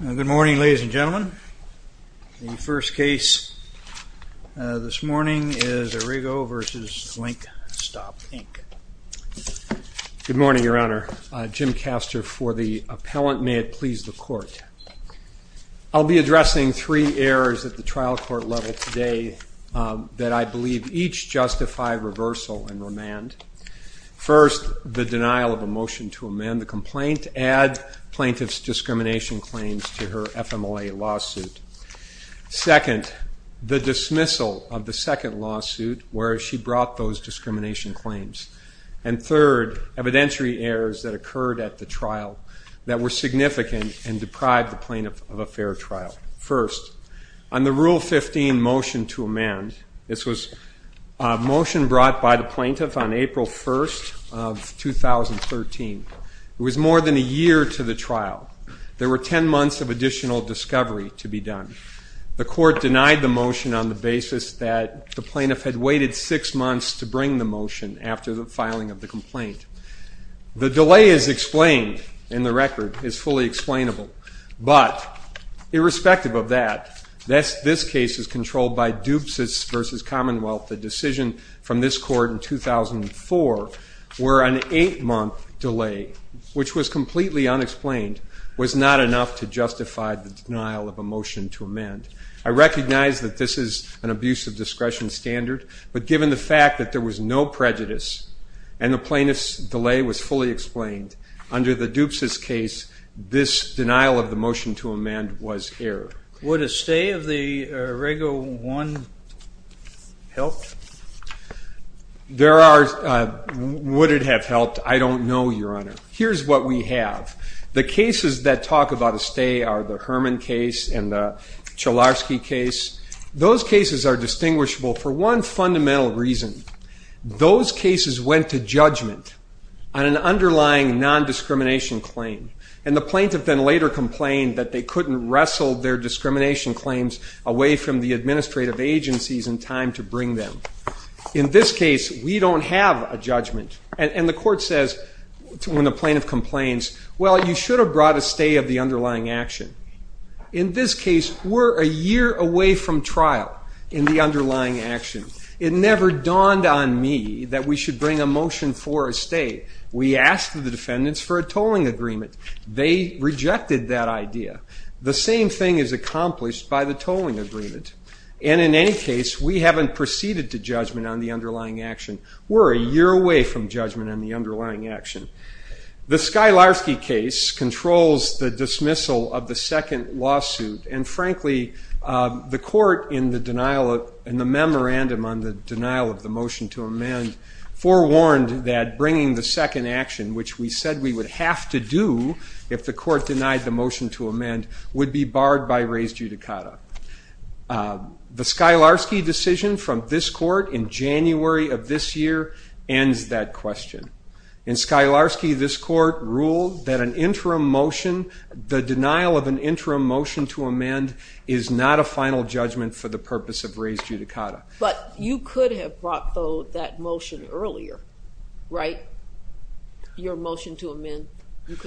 Good morning ladies and gentlemen. The first case this morning is Arrigo v. Link Stop, Inc. Good morning, Your Honor. Jim Castor for the appellant. May it please the court. I'll be addressing three errors at the trial court level today that I believe each justify reversal and remand. First, the plaintiff's discrimination claims to her FMLA lawsuit. Second, the dismissal of the second lawsuit where she brought those discrimination claims. And third, evidentiary errors that occurred at the trial that were significant and deprived the plaintiff of a fair trial. First, on the Rule 15 motion to amend, this was a motion brought by the plaintiff on April 1st of 2013. It was more than a year to the trial. There were 10 months of additional discovery to be done. The court denied the motion on the basis that the plaintiff had waited six months to bring the motion after the filing of the complaint. The delay is explained in the record, is fully explainable, but irrespective of that, this case is controlled by Dupes v. Commonwealth. The decision from this month delay, which was completely unexplained, was not enough to justify the denial of a motion to amend. I recognize that this is an abuse of discretion standard, but given the fact that there was no prejudice and the plaintiff's delay was fully explained, under the Dupes' case, this denial of the motion to amend was error. Would a stay of the Rego 1 help? There are, would it have helped? I don't know, Your Honor. Here's what we have. The cases that talk about a stay are the Herman case and the Cholarski case. Those cases are distinguishable for one fundamental reason. Those cases went to judgment on an underlying non-discrimination claim, and the plaintiff then later complained that they couldn't wrestle their discrimination claims away from the administrative agencies in time to bring them. In this case, we don't have a stay. And the court says, when the plaintiff complains, well, you should have brought a stay of the underlying action. In this case, we're a year away from trial in the underlying action. It never dawned on me that we should bring a motion for a stay. We asked the defendants for a tolling agreement. They rejected that idea. The same thing is accomplished by the tolling agreement. And in any case, we haven't proceeded to judgment on the underlying action. We're a year away from judgment on the underlying action. The Skylarski case controls the dismissal of the second lawsuit, and frankly, the court in the memorandum on the denial of the motion to amend forewarned that bringing the second action, which we said we would have to do if the court denied the motion to amend, would be barred by res judicata. The Skylarski decision from this court in January of this year ends that question. In Skylarski, this court ruled that an interim motion, the denial of an interim motion to amend, is not a final judgment for the purpose of res judicata. But you could have brought though that motion earlier, right? Your motion to amend,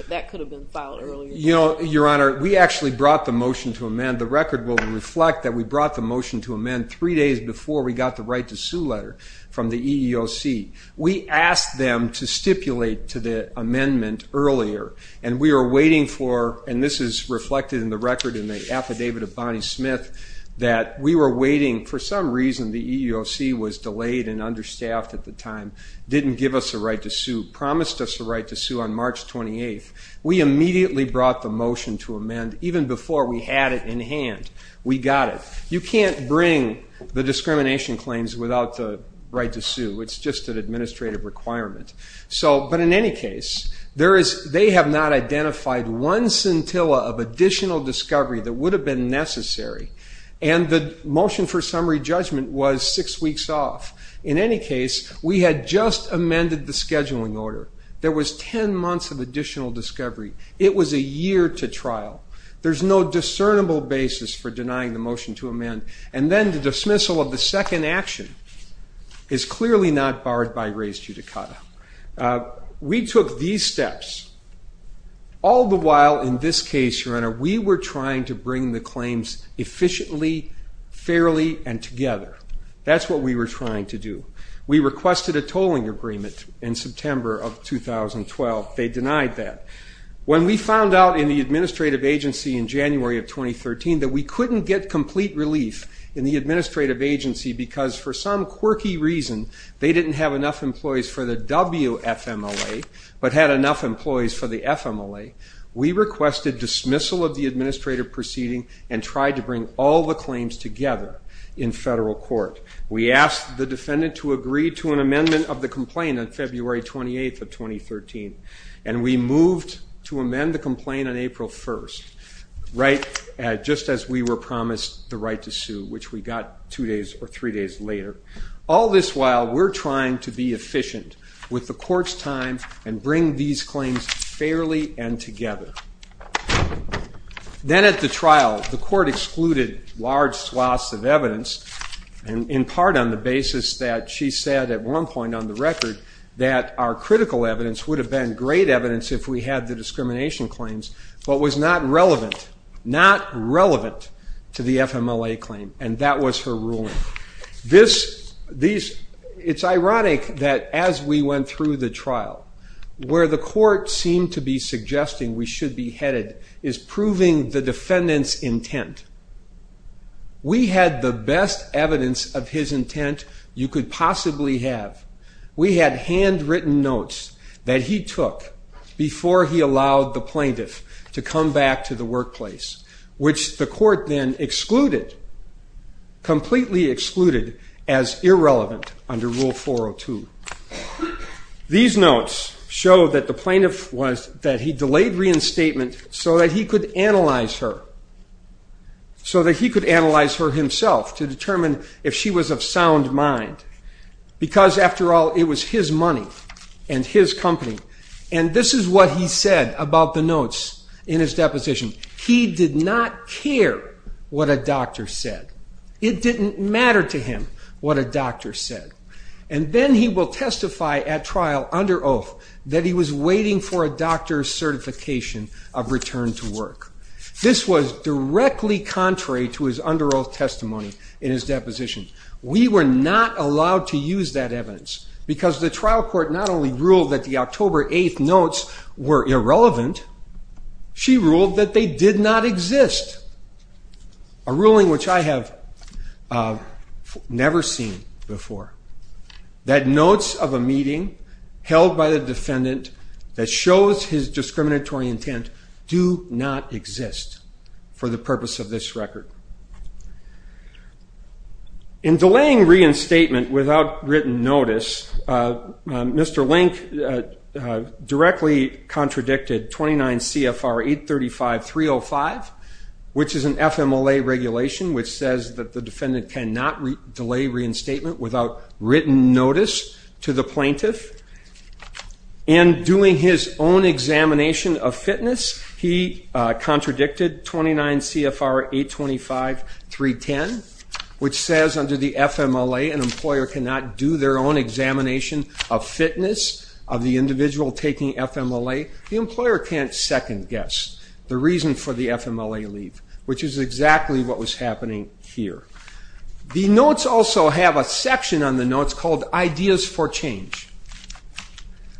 that could have been filed earlier. Your Honor, we actually brought the motion to amend. The record will reflect that we brought the motion to amend three days before we got the right to sue letter from the EEOC. We asked them to stipulate to the amendment earlier, and we were waiting for, and this is reflected in the record in the affidavit of Bonnie Smith, that we were waiting, for some reason the EEOC was delayed and understaffed at the time, didn't give us a right to sue, promised us a right to sue on March 28th. We immediately brought the motion to amend, even before we had it in hand. We got it. You can't bring the discrimination claims without the right to sue. It's just an administrative requirement. So, but in any case, there is, they have not identified one scintilla of additional discovery that would have been necessary, and the motion for summary judgment was six weeks off. In any case, we had just amended the scheduling order. There was 10 months of additional discovery. It was a year to trial. There's no discernible basis for denying the motion to amend, and then the dismissal of the second action is clearly not barred by res judicata. We took these steps all the while in this case, Your Honor, we were trying to bring the claims efficiently, fairly, and together. That's what we were trying to do. We requested a tolling agreement in September of 2012. They denied that. When we found out in the administrative agency in January of 2013 that we couldn't get complete relief in the administrative agency because, for some quirky reason, they didn't have enough employees for the WFMLA, but had enough employees for the FMLA, we requested dismissal of the administrative proceeding and tried to bring all the claims together in federal court. We asked the defendant to agree to an amended complaint on February 28th of 2013, and we moved to amend the complaint on April 1st, just as we were promised the right to sue, which we got two days or three days later. All this while, we're trying to be efficient with the court's time and bring these claims fairly and together. Then at the trial, the court excluded large swaths of evidence, in part on the basis that she said at one point on the record, that our critical evidence would have been great evidence if we had the discrimination claims, but was not relevant, not relevant to the FMLA claim, and that was her ruling. It's ironic that as we went through the trial, where the court seemed to be suggesting we should be headed is proving the defendant's intent. We had the best evidence of his intent you could possibly have. We had handwritten notes that he took before he allowed the plaintiff to come back to the workplace, which the court then excluded, completely excluded, as irrelevant under Rule 402. These notes show that the plaintiff was that he delayed reinstatement so that he could analyze her, so that he could sound mind, because after all, it was his money and his company, and this is what he said about the notes in his deposition. He did not care what a doctor said. It didn't matter to him what a doctor said, and then he will testify at trial under oath that he was waiting for a doctor's certification of return to work. This was directly contrary to his under oath testimony in his deposition. We were not allowed to use that evidence, because the trial court not only ruled that the October 8th notes were irrelevant, she ruled that they did not exist. A ruling which I have never seen before, that notes of a meeting held by the defendant that shows his discriminatory intent do not exist for the purpose of this record. In delaying reinstatement without written notice, Mr. Link directly contradicted 29 CFR 835-305, which is an FMLA regulation which says that the defendant cannot delay reinstatement without written notice to the plaintiff. In doing his own examination of fitness, he contradicted 29 CFR 825-310, which says under the FMLA an employer cannot do their own examination of fitness of the individual taking FMLA. The employer can't second guess the reason for the FMLA leave, which is exactly what was happening here. The notes also have a section on the notes called ideas for change.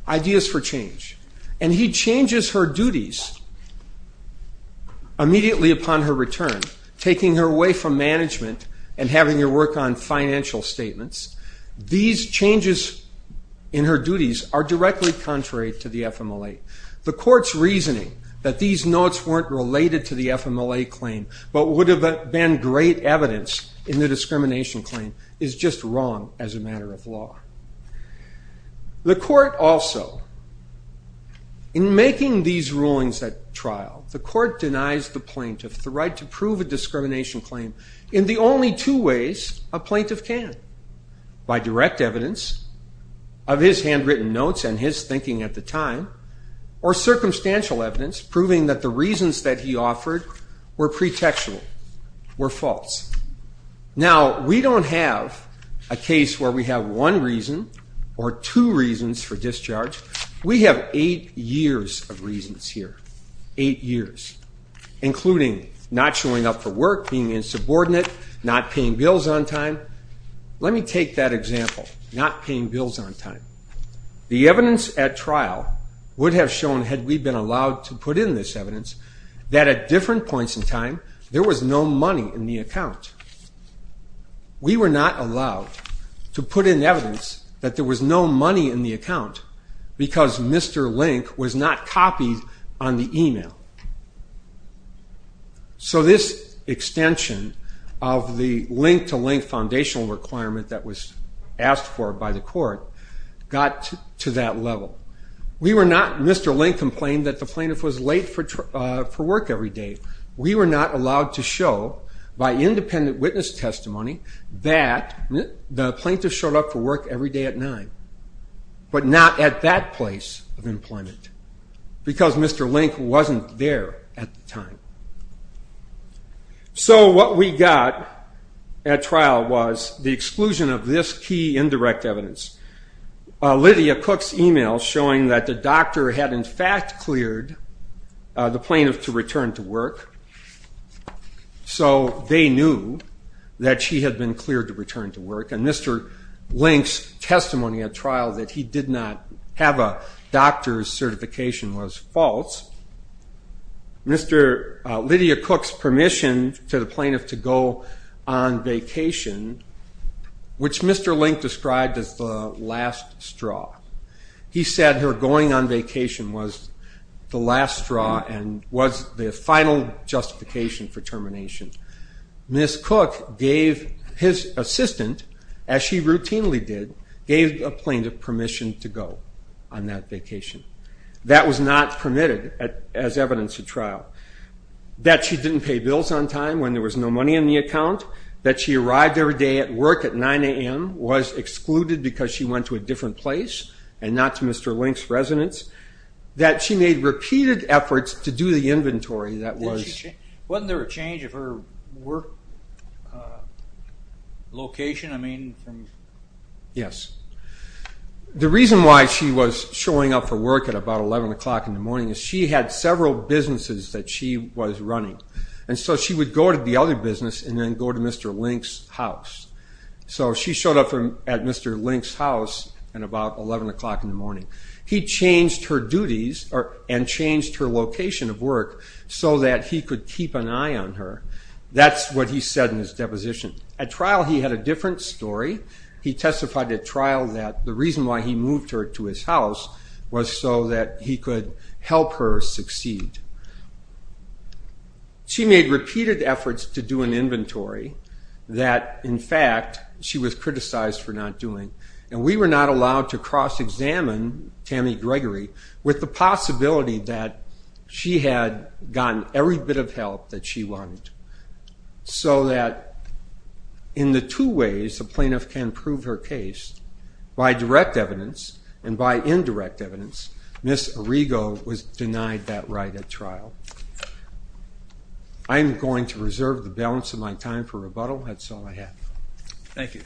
Ideas for change are immediately upon her return, taking her away from management and having her work on financial statements. These changes in her duties are directly contrary to the FMLA. The court's reasoning that these notes weren't related to the FMLA claim, but would have been great evidence in the discrimination claim, is just wrong as a matter of law. The court also, in making these rulings at trial, the court denies the plaintiff the right to prove a discrimination claim in the only two ways a plaintiff can. By direct evidence of his handwritten notes and his thinking at the time, or circumstantial evidence proving that the reasons that he offered were pretextual, were false. Now we don't have a case where we have one reason or two reasons for discharge. We have eight years of reasons here. Eight years, including not showing up for work, being insubordinate, not paying bills on time. Let me take that example, not paying bills on time. The evidence at trial would have shown, had we been allowed to put in this evidence, that at different points in time there was no money in the account. We were not allowed to put in evidence that there was no money in the account because Mr. Link was not copied on the email. So this extension of the link-to-link foundational requirement that was asked for by the court got to that level. We were not, Mr. Link complained that the plaintiff was late for work every day. We were not allowed to show, by independent witness testimony, that the plaintiff showed up for work every day at nine, but not at that place of employment because Mr. Link wasn't there at the time. So what we got at trial was the exclusion of this key indirect evidence. Lydia Cook's email showing that the doctor had in fact cleared the plaintiff to return to work, so they knew that she had been cleared to return to a trial that he did not have a doctor's certification was false. Lydia Cook's permission to the plaintiff to go on vacation, which Mr. Link described as the last straw. He said her going on vacation was the last straw and was the final justification for termination. Ms. Cook gave his assistant, as she routinely did, gave the plaintiff permission to go on that vacation. That was not permitted as evidence at trial. That she didn't pay bills on time when there was no money in the account. That she arrived every day at work at 9 a.m., was excluded because she went to a different place and not to Mr. Link's residence. That she made repeated efforts to do the inventory that was... Wasn't there a change of her work location? I mean... Yes. The reason why she was showing up for work at about 11 o'clock in the morning is she had several businesses that she was running. And so she would go to the other business and then go to Mr. Link's house. So she showed up at Mr. Link's house at about 11 o'clock in the morning. He changed her duties and changed her so that he could keep an eye on her. That's what he said in his deposition. At trial he had a different story. He testified at trial that the reason why he moved her to his house was so that he could help her succeed. She made repeated efforts to do an inventory that, in fact, she was criticized for not doing. And we were not allowed to cross-examine Tammy Gregory with the possibility that she had gotten every bit of help that she wanted. So that, in the two ways a plaintiff can prove her case, by direct evidence and by indirect evidence, Ms. Arrigo was denied that right at trial. I'm going to reserve the balance of my time for rebuttal. That's all I have. Thank you.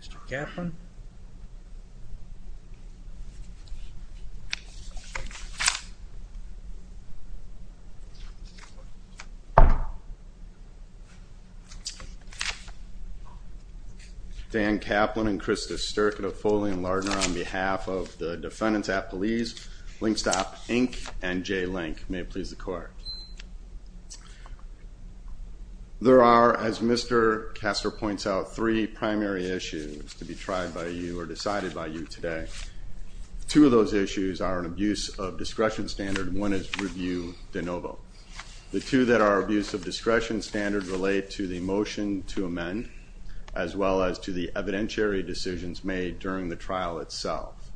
Mr. Kaplan. Dan Kaplan and Krista Sterk of Foley & Lardner, on behalf of the defendants at police, Linkstop Inc. and J Link, may it please the court. There are, as Mr. Kastor points out, three primary issues to be tried by you or decided by you today. Two of those issues are an abuse of discretion standard, and one is review de novo. The two that are abuse of discretion standard relate to the motion to amend, as well as to the evidentiary decisions made during the trial itself.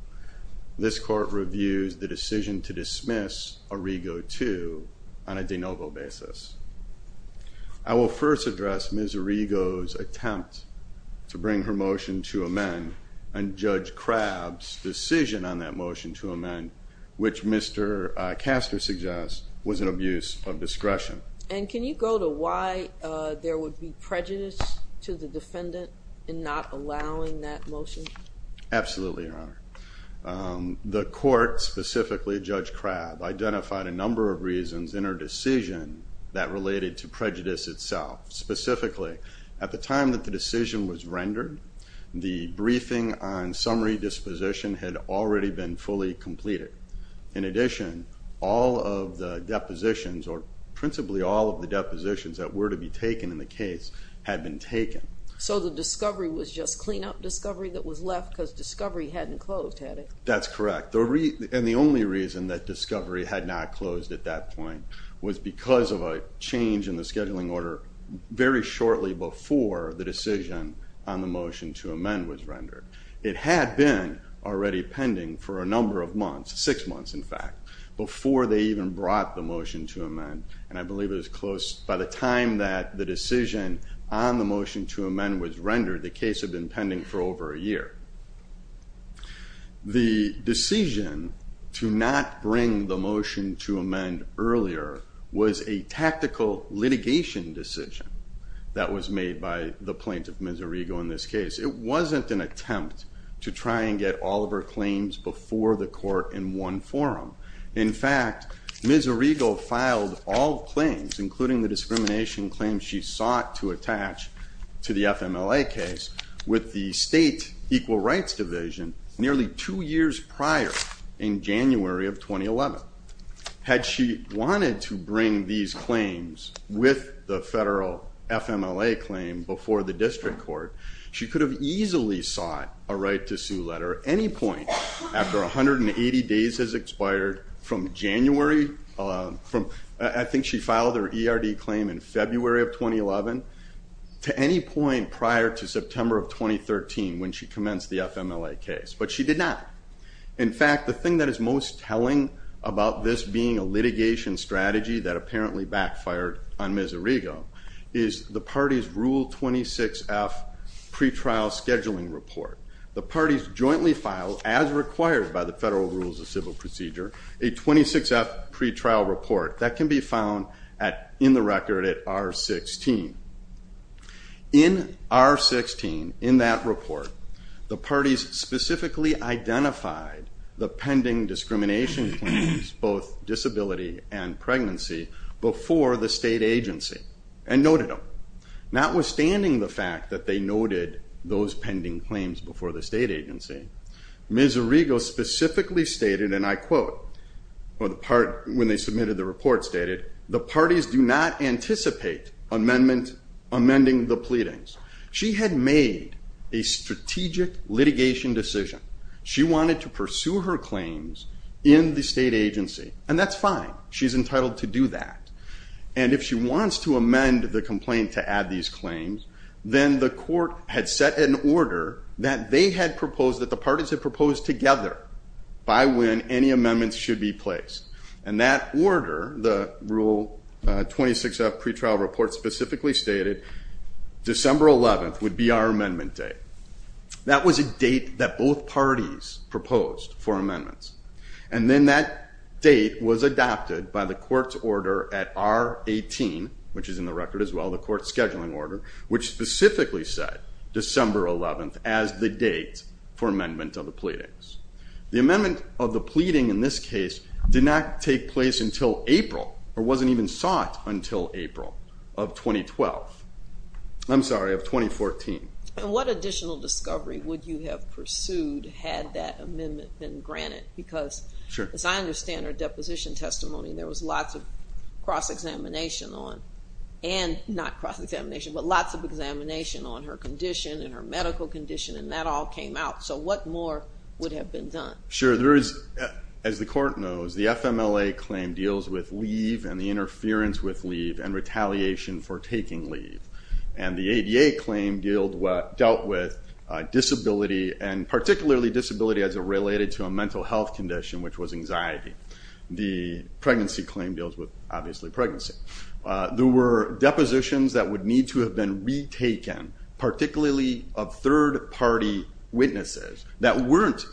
This court reviews the decision to dismiss Arrigo 2 on a de novo basis. I will first address Ms. Arrigo's attempt to bring her motion to amend and Judge Crabb's decision on that motion to amend, which Mr. Kastor suggests was an abuse of discretion. And can you go to why there would be prejudice to the defendant in not allowing that motion? Absolutely, Your Honor. The court, specifically Judge Crabb, identified a number of reasons in her decision that related to prejudice itself. Specifically, at the time that the decision was made, the discovery disposition had already been fully completed. In addition, all of the depositions, or principally all of the depositions that were to be taken in the case, had been taken. So the discovery was just cleanup discovery that was left because discovery hadn't closed, had it? That's correct. And the only reason that discovery had not closed at that point was because of a change in the scheduling order very shortly before the decision on the motion to amend was already pending for a number of months, six months in fact, before they even brought the motion to amend. And I believe it was close, by the time that the decision on the motion to amend was rendered, the case had been pending for over a year. The decision to not bring the motion to amend earlier was a tactical litigation decision that was made by the plaintiff, Ms. Arrigo, in this case. It wasn't an attempt to try and get all of her claims before the court in one forum. In fact, Ms. Arrigo filed all claims, including the discrimination claims she sought to attach to the FMLA case, with the State Equal Rights Division nearly two years prior, in January of 2011. Had she wanted to bring these claims with the federal FMLA claim before the district court, she could have easily sought a right to sue letter any point after 180 days has expired from January, I think she filed her ERD claim in February of 2011, to any point prior to September of 2013 when she commenced the FMLA case. But she did not. In fact, the thing that is most telling about this being a case that apparently backfired on Ms. Arrigo is the party's Rule 26F pretrial scheduling report. The parties jointly filed, as required by the federal rules of civil procedure, a 26F pretrial report that can be found in the record at R-16. In R-16, in that report, the parties specifically identified the pending discrimination claims, both disability and pregnancy, before the state agency and noted them. Notwithstanding the fact that they noted those pending claims before the state agency, Ms. Arrigo specifically stated, and I quote when they submitted the report, stated, the parties do not anticipate amendment amending the pleadings. She had made a strategic litigation decision. She wanted to pursue her claims in the state agency, and that's fine. She's entitled to do that. And if she wants to amend the complaint to add these claims, then the court had set an order that they had proposed, that the parties had proposed together, by when any amendments should be placed. And that order, the Rule 26F pretrial report specifically stated, December 11th would be our amendment day. That was a date that both parties proposed for amendments, and then that date was adapted by the court's order at R-18, which is in the record as well, the court's scheduling order, which specifically said December 11th as the date for amendment of the pleadings. The amendment of the pleading in this case did not take place until April, or wasn't even sought until April of 2012. I'm curious, what additional discovery would you have pursued, had that amendment been granted? Because, as I understand her deposition testimony, there was lots of cross-examination on, and not cross-examination, but lots of examination on her condition, and her medical condition, and that all came out. So what more would have been done? Sure, there is, as the court knows, the FMLA claim deals with leave, and the interference with leave, and retaliation for taking leave, and the ADA claim dealt with disability, and particularly disability as it related to a mental health condition, which was anxiety. The pregnancy claim deals with, obviously, pregnancy. There were depositions that would need to have been retaken, particularly of third-party witnesses that weren't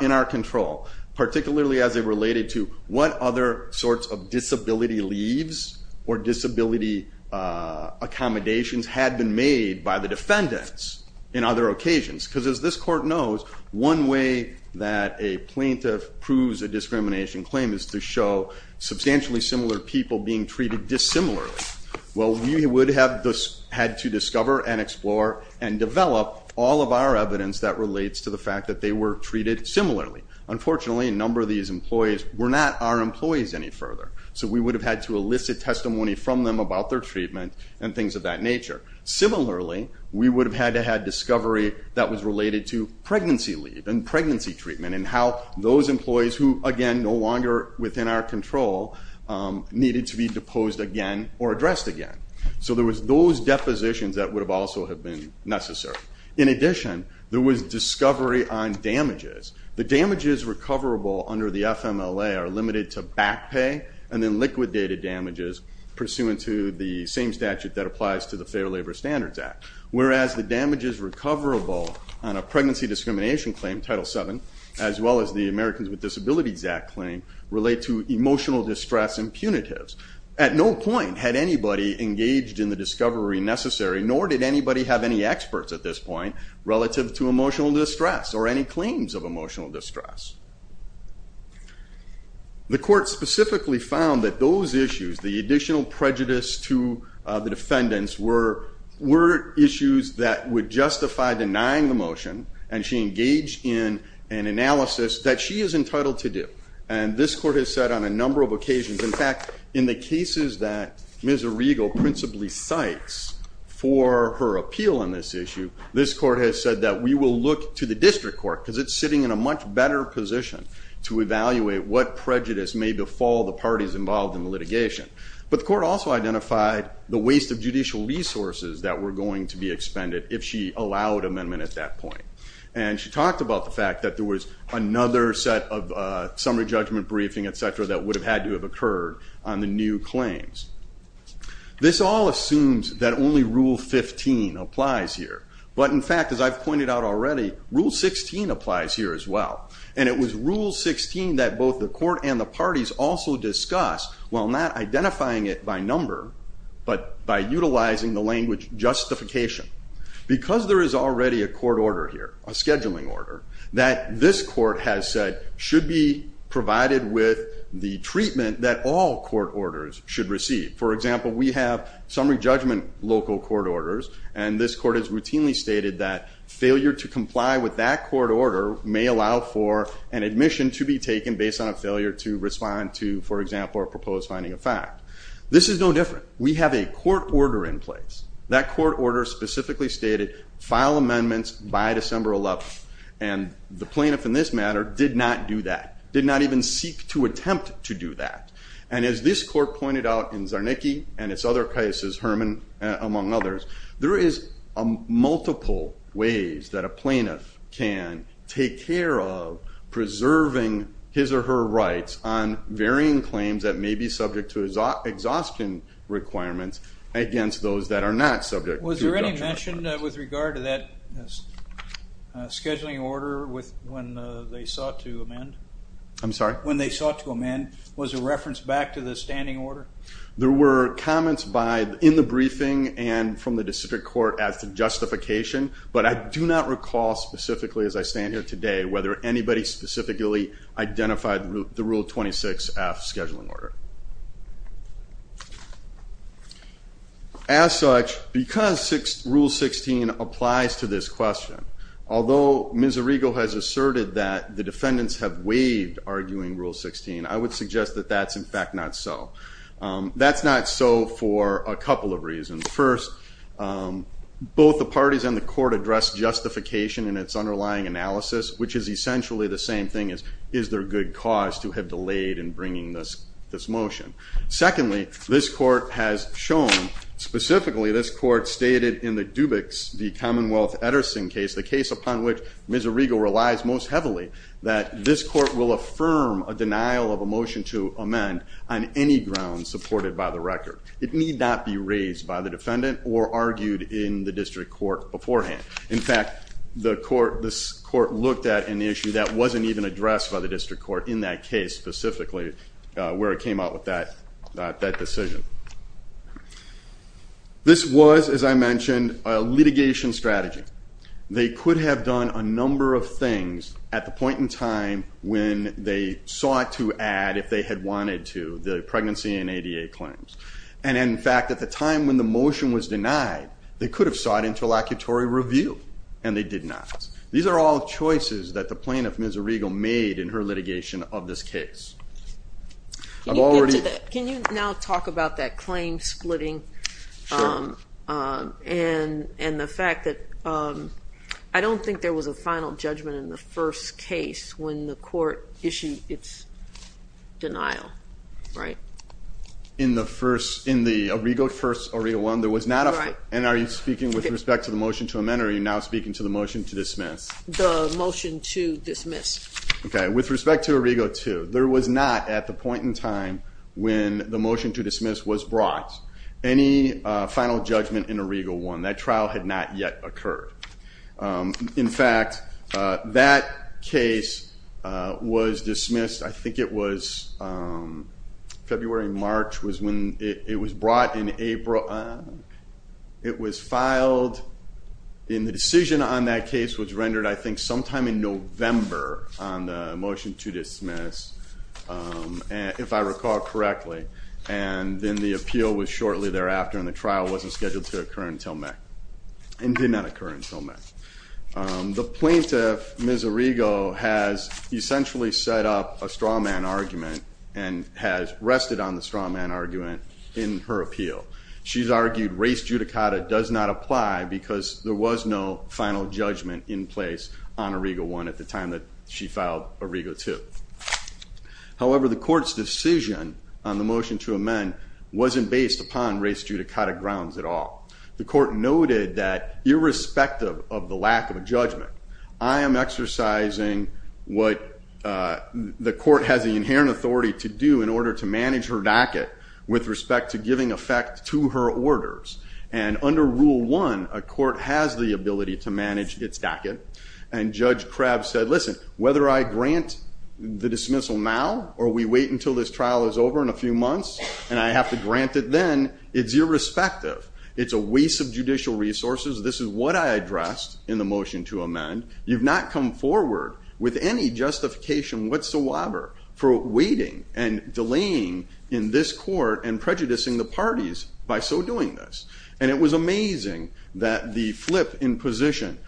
in our control, particularly as it related to what other sorts of disability leaves, or disability accommodations had been made by the defendants in other occasions. Because, as this court knows, one way that a plaintiff proves a discrimination claim is to show substantially similar people being treated dissimilarly. Well, we would have had to discover, and explore, and develop all of our evidence that relates to the fact that they were treated similarly. Unfortunately, a number of these employees were not our employees any further, so we would have had to elicit testimony from them about their treatment, and things of that nature. Similarly, we would have had to have discovery that was related to pregnancy leave, and pregnancy treatment, and how those employees who, again, no longer within our control, needed to be deposed again, or addressed again. So there was those depositions that would have also have been necessary. In addition, there was discovery on damages. The damages recoverable under the FMLA are limited to back pay, and then liquidated damages pursuant to the same statute that applies to the Fair Labor Standards Act. Whereas, the damages recoverable on a pregnancy discrimination claim, Title VII, as well as the Americans with Disabilities Act claim, relate to emotional distress and punitives. At no point had anybody engaged in the discovery necessary, nor did anybody have any experts at this point relative to emotional distress, or any claims of emotional distress. The court specifically found that those issues, the additional prejudice to the defendants, were issues that would justify denying the motion, and she engaged in an analysis that she is entitled to do. And this court has said on a number of occasions, in fact, in the cases that Ms. Arrigo principally cites for her appeal on this issue, this court has said that we will look to the district court, because it's sitting in a much better position to evaluate what prejudice may befall the parties involved in the litigation. But the court also identified the waste of judicial resources that were going to be expended if she allowed amendment at that point. And she talked about the fact that there was another set of summary judgment briefing, et cetera, that would have had to have occurred on the new claims. This all assumes that only Rule 15 applies here. But in fact, as I've pointed out already, Rule 16 applies here as well. And it was Rule 16 that both the court and the parties also discussed, while not identifying it by number, but by utilizing the language justification. Because there is already a court order here, a scheduling order, that this court has said should be provided with the treatment that all court orders should receive. For example, we have summary judgment local court orders, and this court has routinely stated that failure to comply with that court order may allow for an admission to be taken based on a failure to respond to, for example, a proposed finding of fact. This is no different. We have a court order in place. That court order specifically stated, file amendments by December 11th. And the plaintiff in this matter did not do that, did not even seek to attempt to do that. And as this court pointed out in Czarnecki and its other cases, Herman among others, there is multiple ways that a plaintiff can take care of preserving his or her rights on varying claims that may be subject to exhaustion requirements against those that are not subject. Was there any mention with regard to that scheduling order when they sought to amend? I'm sorry? When they sought to amend, was a reference back to the standing order? There were comments by, in the briefing, and from the district court as to justification, but I do not recall specifically as I stand here today, whether anybody specifically identified the Rule 26F scheduling order. As such, because Rule 16 applies to this question, although Ms. Arrigo has asserted that the defendants have waived arguing Rule 16, I would suggest that that's in fact not so. That's not so for a couple of reasons. First, both the parties and the court address justification in its underlying analysis, which is essentially the same thing as is there good cause to have delayed in bringing this motion. Secondly, this court has shown, specifically this court stated in the Dubix v. Commonwealth Etterson case, the case upon which Ms. Arrigo relies most heavily, that this court will affirm a denial of a motion to amend on any grounds supported by the record. It need not be raised by the defendant or argued in the district court beforehand. In fact, this court looked at an issue that wasn't even addressed by the district court in that case, specifically where it came out with that decision. This was, as I mentioned, a litigation strategy. They could have done a number of things at the point in time when they sought to add, if they had wanted to, the pregnancy and ADA claims. And in fact, at the time when the motion was denied, they could have sought interlocutory review, and they did not. These are all choices that the plaintiff, Ms. Arrigo, made in her litigation of this case. I've already... Can you now talk about that claim splitting and the fact that I don't think there was a final judgment in the first case when the court issued its denial, right? In the first, in the Arrigo first, Arrigo one, there was not a... And are you speaking with respect to the motion to dismiss? The motion to dismiss. Okay, with respect to Arrigo two, there was not, at the point in time when the motion to dismiss was brought, any final judgment in Arrigo one. That trial had not yet occurred. In fact, that case was dismissed, I think it was February, March, was when it was brought in April. It was that case which rendered, I think, sometime in November on the motion to dismiss, if I recall correctly, and then the appeal was shortly thereafter and the trial wasn't scheduled to occur until May, and did not occur until May. The plaintiff, Ms. Arrigo, has essentially set up a straw man argument and has rested on the straw man argument in her appeal. She's argued race judicata does not apply because there was no final judgment in place on Arrigo one at the time that she filed Arrigo two. However, the court's decision on the motion to amend wasn't based upon race judicata grounds at all. The court noted that irrespective of the lack of a judgment, I am exercising what the court has the inherent authority to do in order to manage her docket with respect to giving effect to her orders. And under rule one, a court has the ability to manage its docket. And Judge Krabb said, listen, whether I grant the dismissal now or we wait until this trial is over in a few months and I have to grant it then, it's irrespective. It's a waste of judicial resources. This is what I addressed in the motion to amend. You've not come forward with any justification whatsoever for waiting and delaying in this court and prejudicing the parties by so doing this. And it was amazing that the flip in position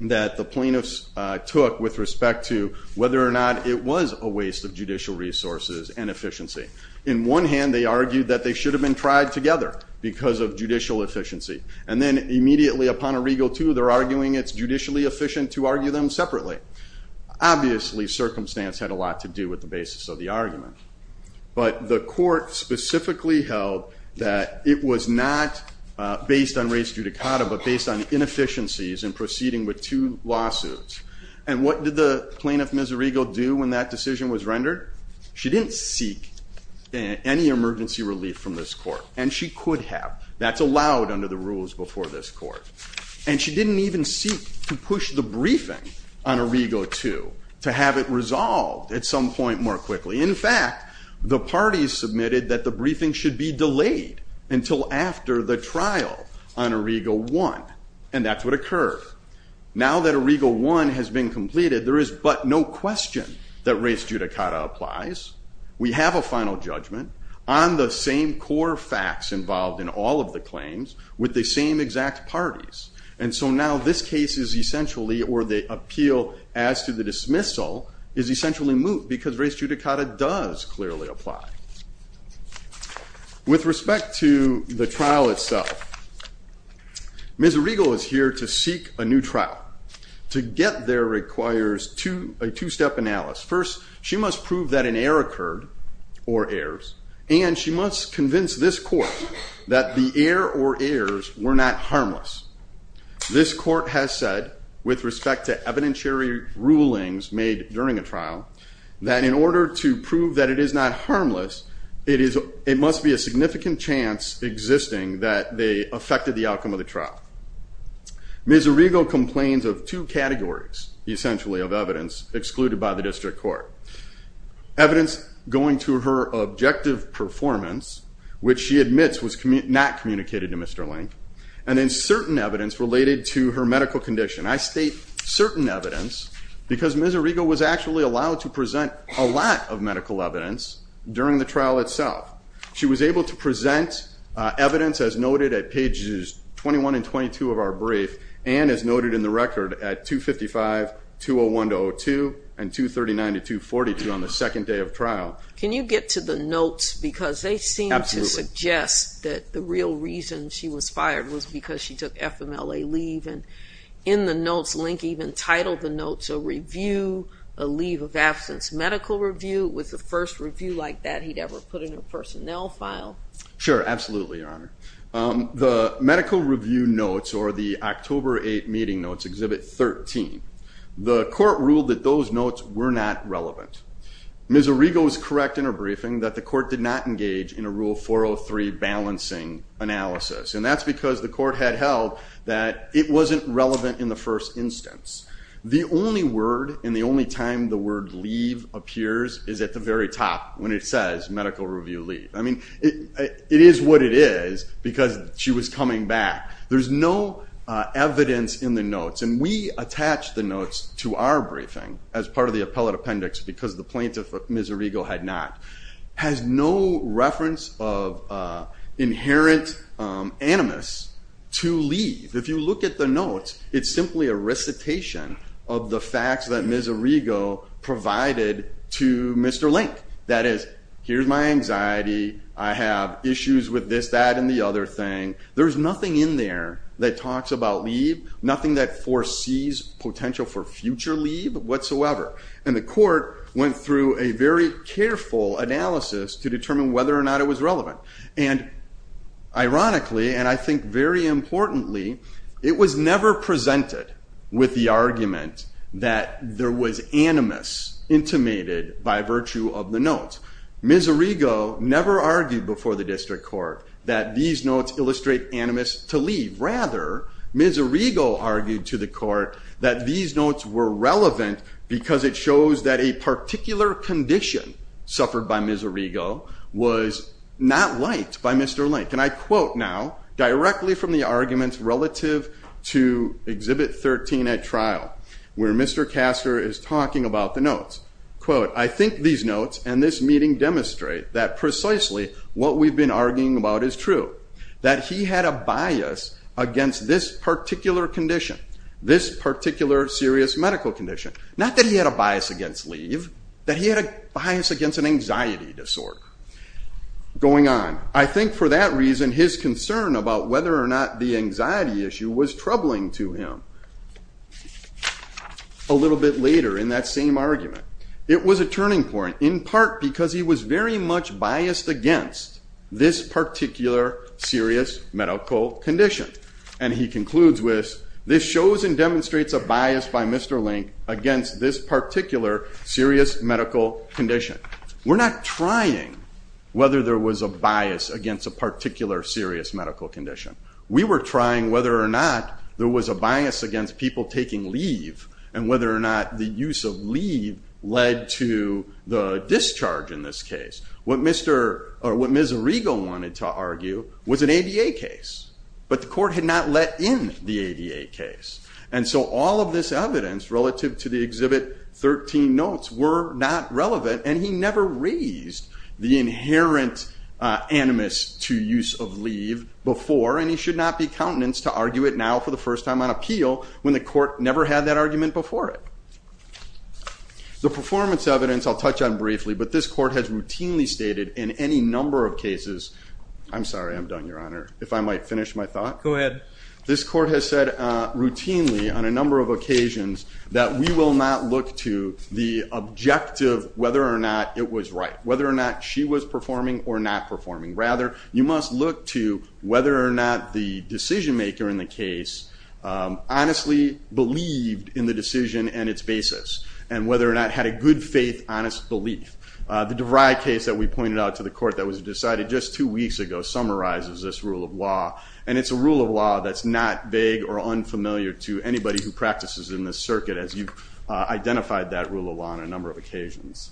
that the plaintiffs took with respect to whether or not it was a waste of judicial resources and efficiency. In one hand, they argued that they should have been tried together because of judicial efficiency. And then immediately upon Arrigo two, they're arguing it's judicially efficient to argue them separately. Obviously, circumstance had a lot to do with the basis of the argument. But the court specifically held that it was not based on race judicata, but based on inefficiencies in proceeding with two lawsuits. And what did the plaintiff, Ms. Arrigo, do when that decision was rendered? She didn't seek any emergency relief from this court. And she could have. That's allowed under the rules before this court. And she didn't even seek to push the briefing on Arrigo two to have it resolved at some point more quickly. In fact, the parties submitted that the briefing should be delayed until after the trial on Arrigo one. And that's what occurred. Now that Arrigo one has been completed, there is but no question that race judicata applies. We have a final judgment on the same core facts involved in all of the claims with the same exact parties. And so now this case is essentially, or the appeal as to the dismissal, is essentially moot because race judicata does clearly apply. With respect to the trial itself, Ms. Arrigo is here to seek a new trial. To get there requires a two-step analysis. First, she must prove that an error occurred, or errors, and she must convince this court that the error or errors were not harmless. This court has said, with respect to evidentiary rulings made during a trial, that in order to prove that it is not harmless, it must be a significant chance existing that they affected the outcome of the trial. Ms. Arrigo complains of two categories, essentially, of evidence excluded by the district court. Evidence going to her objective performance, which she admits was not communicated to Mr. Link, and then certain evidence related to her medical condition. I state certain evidence because Ms. Arrigo was actually allowed to present a lot of medical evidence during the trial itself. She was able to present evidence as noted at pages 21 and 22 of our brief, and as noted in the record at 255, 201 to 255. Can you get to the notes, because they seem to suggest that the real reason she was fired was because she took FMLA leave, and in the notes, Link even titled the notes a review, a leave of absence medical review. Was the first review like that he'd ever put in her personnel file? Sure, absolutely, Your Honor. The medical review notes, or the October 8 meeting notes, Exhibit 13, the court ruled that those notes were not relevant. Ms. Arrigo was correct in her briefing that the court did not engage in a Rule 403 balancing analysis, and that's because the court had held that it wasn't relevant in the first instance. The only word and the only time the word leave appears is at the very top when it says medical review leave. I mean, it is what it is because she was coming back. There's no evidence in the notes, and we attached the notes to our briefing as part of the appellate appendix because the plaintiff, Ms. Arrigo, had not. Has no reference of inherent animus to leave. If you look at the notes, it's simply a recitation of the facts that Ms. Arrigo provided to Mr. Link. That is, here's my anxiety, I have issues with this, that, and the other thing. There's nothing in there that talks about leave, nothing that foresees potential for future leave whatsoever, and the court went through a very careful analysis to determine whether or not it was relevant, and ironically, and I think very importantly, it was never presented with the argument that there was animus intimated by virtue of the notes. Ms. Arrigo never argued before the district court that these notes illustrate animus to leave. Rather, Ms. Arrigo argued to the court that these notes were relevant because it shows that a particular condition suffered by Ms. Arrigo was not liked by Mr. Link, and I quote now, directly from the arguments relative to Exhibit 13 at trial, where Mr. Kasser is talking about the notes, quote, I think these notes and this meeting demonstrate that precisely what we've been arguing about is true, that he had a bias against this particular condition, this particular serious medical condition. Not that he had a bias against leave, that he had a bias against an anxiety disorder. Going on, I think for that reason his concern about whether or not the anxiety issue was troubling to him. A little bit later in that same argument, it was a turning point, in part because he was very much biased against this particular serious medical condition, and he concludes with, this shows and demonstrates a bias by Mr. Link against this particular serious medical condition. We're not trying whether there was a bias against a particular serious medical condition. We were trying whether or not there was a bias against people taking leave, and the discharge in this case, what Mr. or what Ms. Arrigo wanted to argue was an ADA case, but the court had not let in the ADA case, and so all of this evidence relative to the Exhibit 13 notes were not relevant, and he never raised the inherent animus to use of leave before, and he should not be countenance to argue it now for the first time on appeal when the court never had that briefly, but this court has routinely stated in any number of cases, I'm sorry I'm done your honor, if I might finish my thought. Go ahead. This court has said routinely on a number of occasions that we will not look to the objective whether or not it was right, whether or not she was performing or not performing. Rather, you must look to whether or not the decision-maker in the case honestly believed in the decision and its basis, and whether or not had a good faith honest belief. The DeVry case that we pointed out to the court that was decided just two weeks ago summarizes this rule of law, and it's a rule of law that's not vague or unfamiliar to anybody who practices in this circuit as you've identified that rule of law on a number of occasions.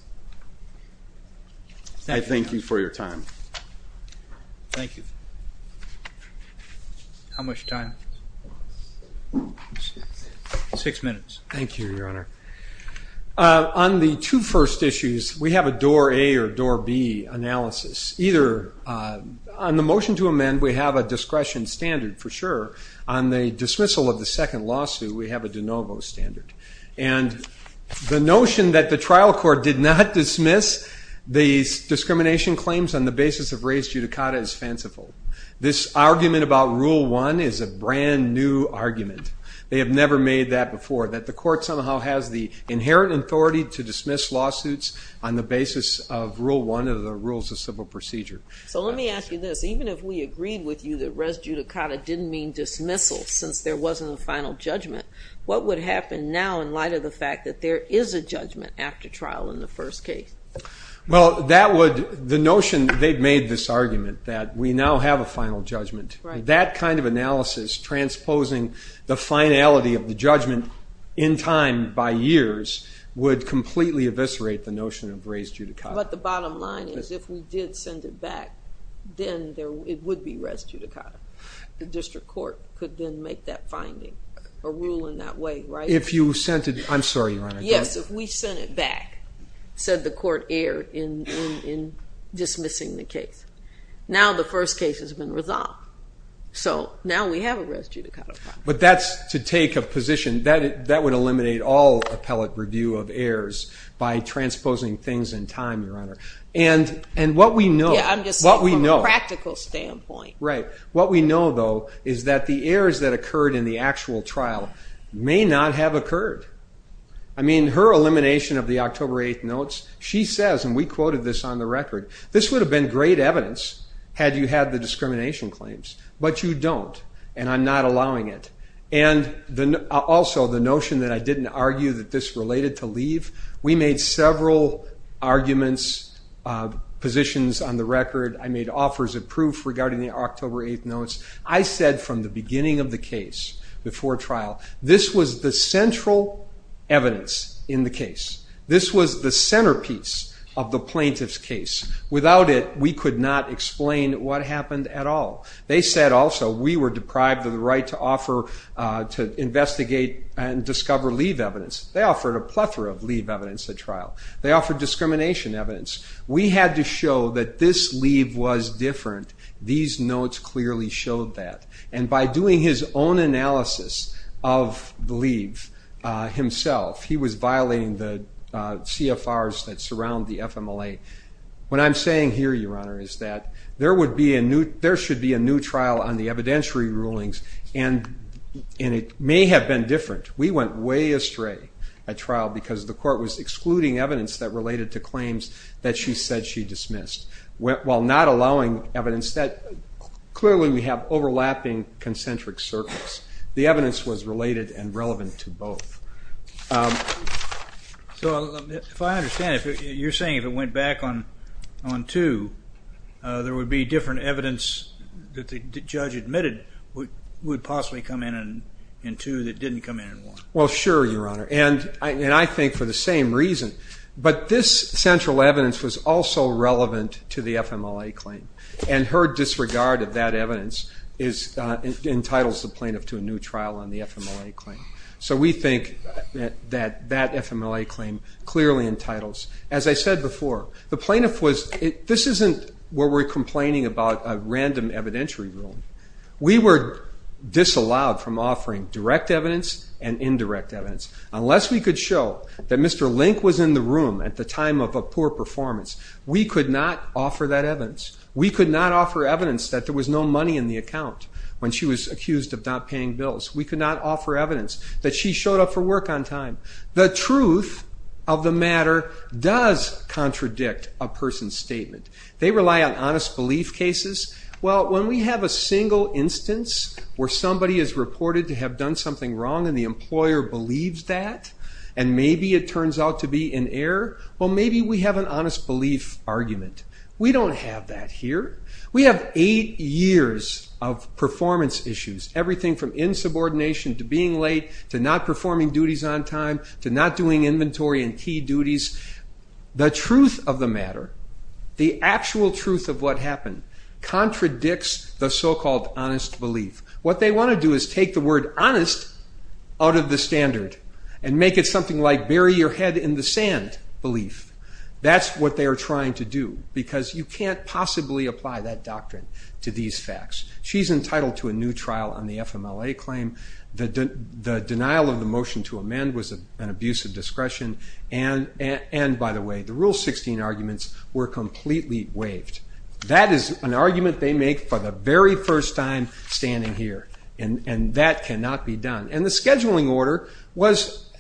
I thank you for your time. Thank you. How much time? Six minutes. Thank you, your honor. On the two first issues, we have a door A or door B analysis. Either on the motion to amend we have a discretion standard for sure, on the dismissal of the second lawsuit we have a de novo standard. And the notion that the trial court did not dismiss these discrimination claims on the basis of race judicata is fanciful. This argument about rule one is a brand new argument. They have never made that before, that the court somehow has the inherent authority to dismiss lawsuits on the basis of rule one of the rules of civil procedure. So let me ask you this, even if we agreed with you that res judicata didn't mean dismissal since there wasn't a final judgment, what would happen now in light of the fact that there is a judgment after trial in the first case? Well that would, the notion they've made this argument that we now have a final judgment. That kind of in time by years would completely eviscerate the notion of race judicata. But the bottom line is if we did send it back, then there it would be res judicata. The district court could then make that finding, a rule in that way, right? If you sent it, I'm sorry your honor. Yes, if we sent it back, said the court error in dismissing the case. Now the first case has been resolved. So now we have a res judicata. That would eliminate all appellate review of errors by transposing things in time, your honor. And what we know, what we know, practical standpoint, right? What we know though is that the errors that occurred in the actual trial may not have occurred. I mean her elimination of the October 8th notes, she says, and we quoted this on the record, this would have been great evidence had you had the discrimination claims. But you don't and I'm not allowing it. And then also the notion that I didn't argue that this related to leave. We made several arguments, positions on the record. I made offers of proof regarding the October 8th notes. I said from the beginning of the case, before trial, this was the central evidence in the case. This was the centerpiece of the plaintiff's case. Without it, we could not explain what happened at all. They said also we were discover leave evidence. They offered a plethora of leave evidence at trial. They offered discrimination evidence. We had to show that this leave was different. These notes clearly showed that. And by doing his own analysis of the leave himself, he was violating the CFRs that surround the FMLA. What I'm saying here, your honor, is that there would be a new, there should be a new trial on the way astray at trial because the court was excluding evidence that related to claims that she said she dismissed. While not allowing evidence that, clearly we have overlapping concentric circles. The evidence was related and relevant to both. So if I understand it, you're saying if it went back on two, there would be different evidence that the judge admitted would possibly come in in two that didn't come in in one. Well, sure, your honor. And I think for the same reason. But this central evidence was also relevant to the FMLA claim. And her disregard of that evidence is, entitles the plaintiff to a new trial on the FMLA claim. So we think that that FMLA claim clearly entitles, as I said before, the plaintiff was, this isn't where we're complaining about a random evidentiary ruling. We were disallowed from offering direct evidence and indirect evidence. Unless we could show that Mr. Link was in the room at the time of a poor performance, we could not offer that evidence. We could not offer evidence that there was no money in the account when she was accused of not paying bills. We could not offer evidence that she showed up for work on time. The truth of the matter does contradict a person's statement. They rely on honest belief cases. Well, when we have a single instance where somebody is reported to have done something wrong and the employer believes that, and maybe it turns out to be an error, well maybe we have an honest belief argument. We don't have that here. We have eight years of performance issues. Everything from insubordination to being late to not performing duties on time to not doing inventory and key duties. The truth of the matter, the actual truth of what happened, contradicts the so-called honest belief. What they want to do is take the word honest out of the standard and make it something like bury your head in the sand belief. That's what they are trying to do because you can't possibly apply that doctrine to these facts. She's entitled to a new trial on the FMLA claim. The denial of the motion to amend was an abuse of discretion and by the way, the Rule 16 arguments were completely waived. That is an argument they make for the very first time standing here and that cannot be done. And the scheduling order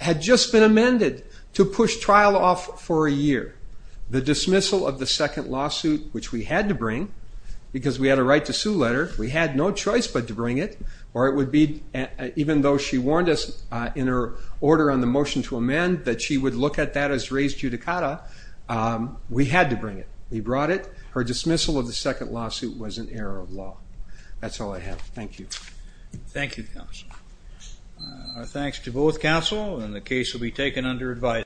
had just been amended to push trial off for a year. The dismissal of the second lawsuit, which we had to bring because we had a right to sue letter, we had no choice but to bring it, or it would be even though she warned us in her order on the motion to amend that she would look at that as a raised judicata, we had to bring it. We brought it. Her dismissal of the second lawsuit was an error of law. That's all I have. Thank you. Thank you, counsel. Our thanks to both counsel and the case will be taken under advice.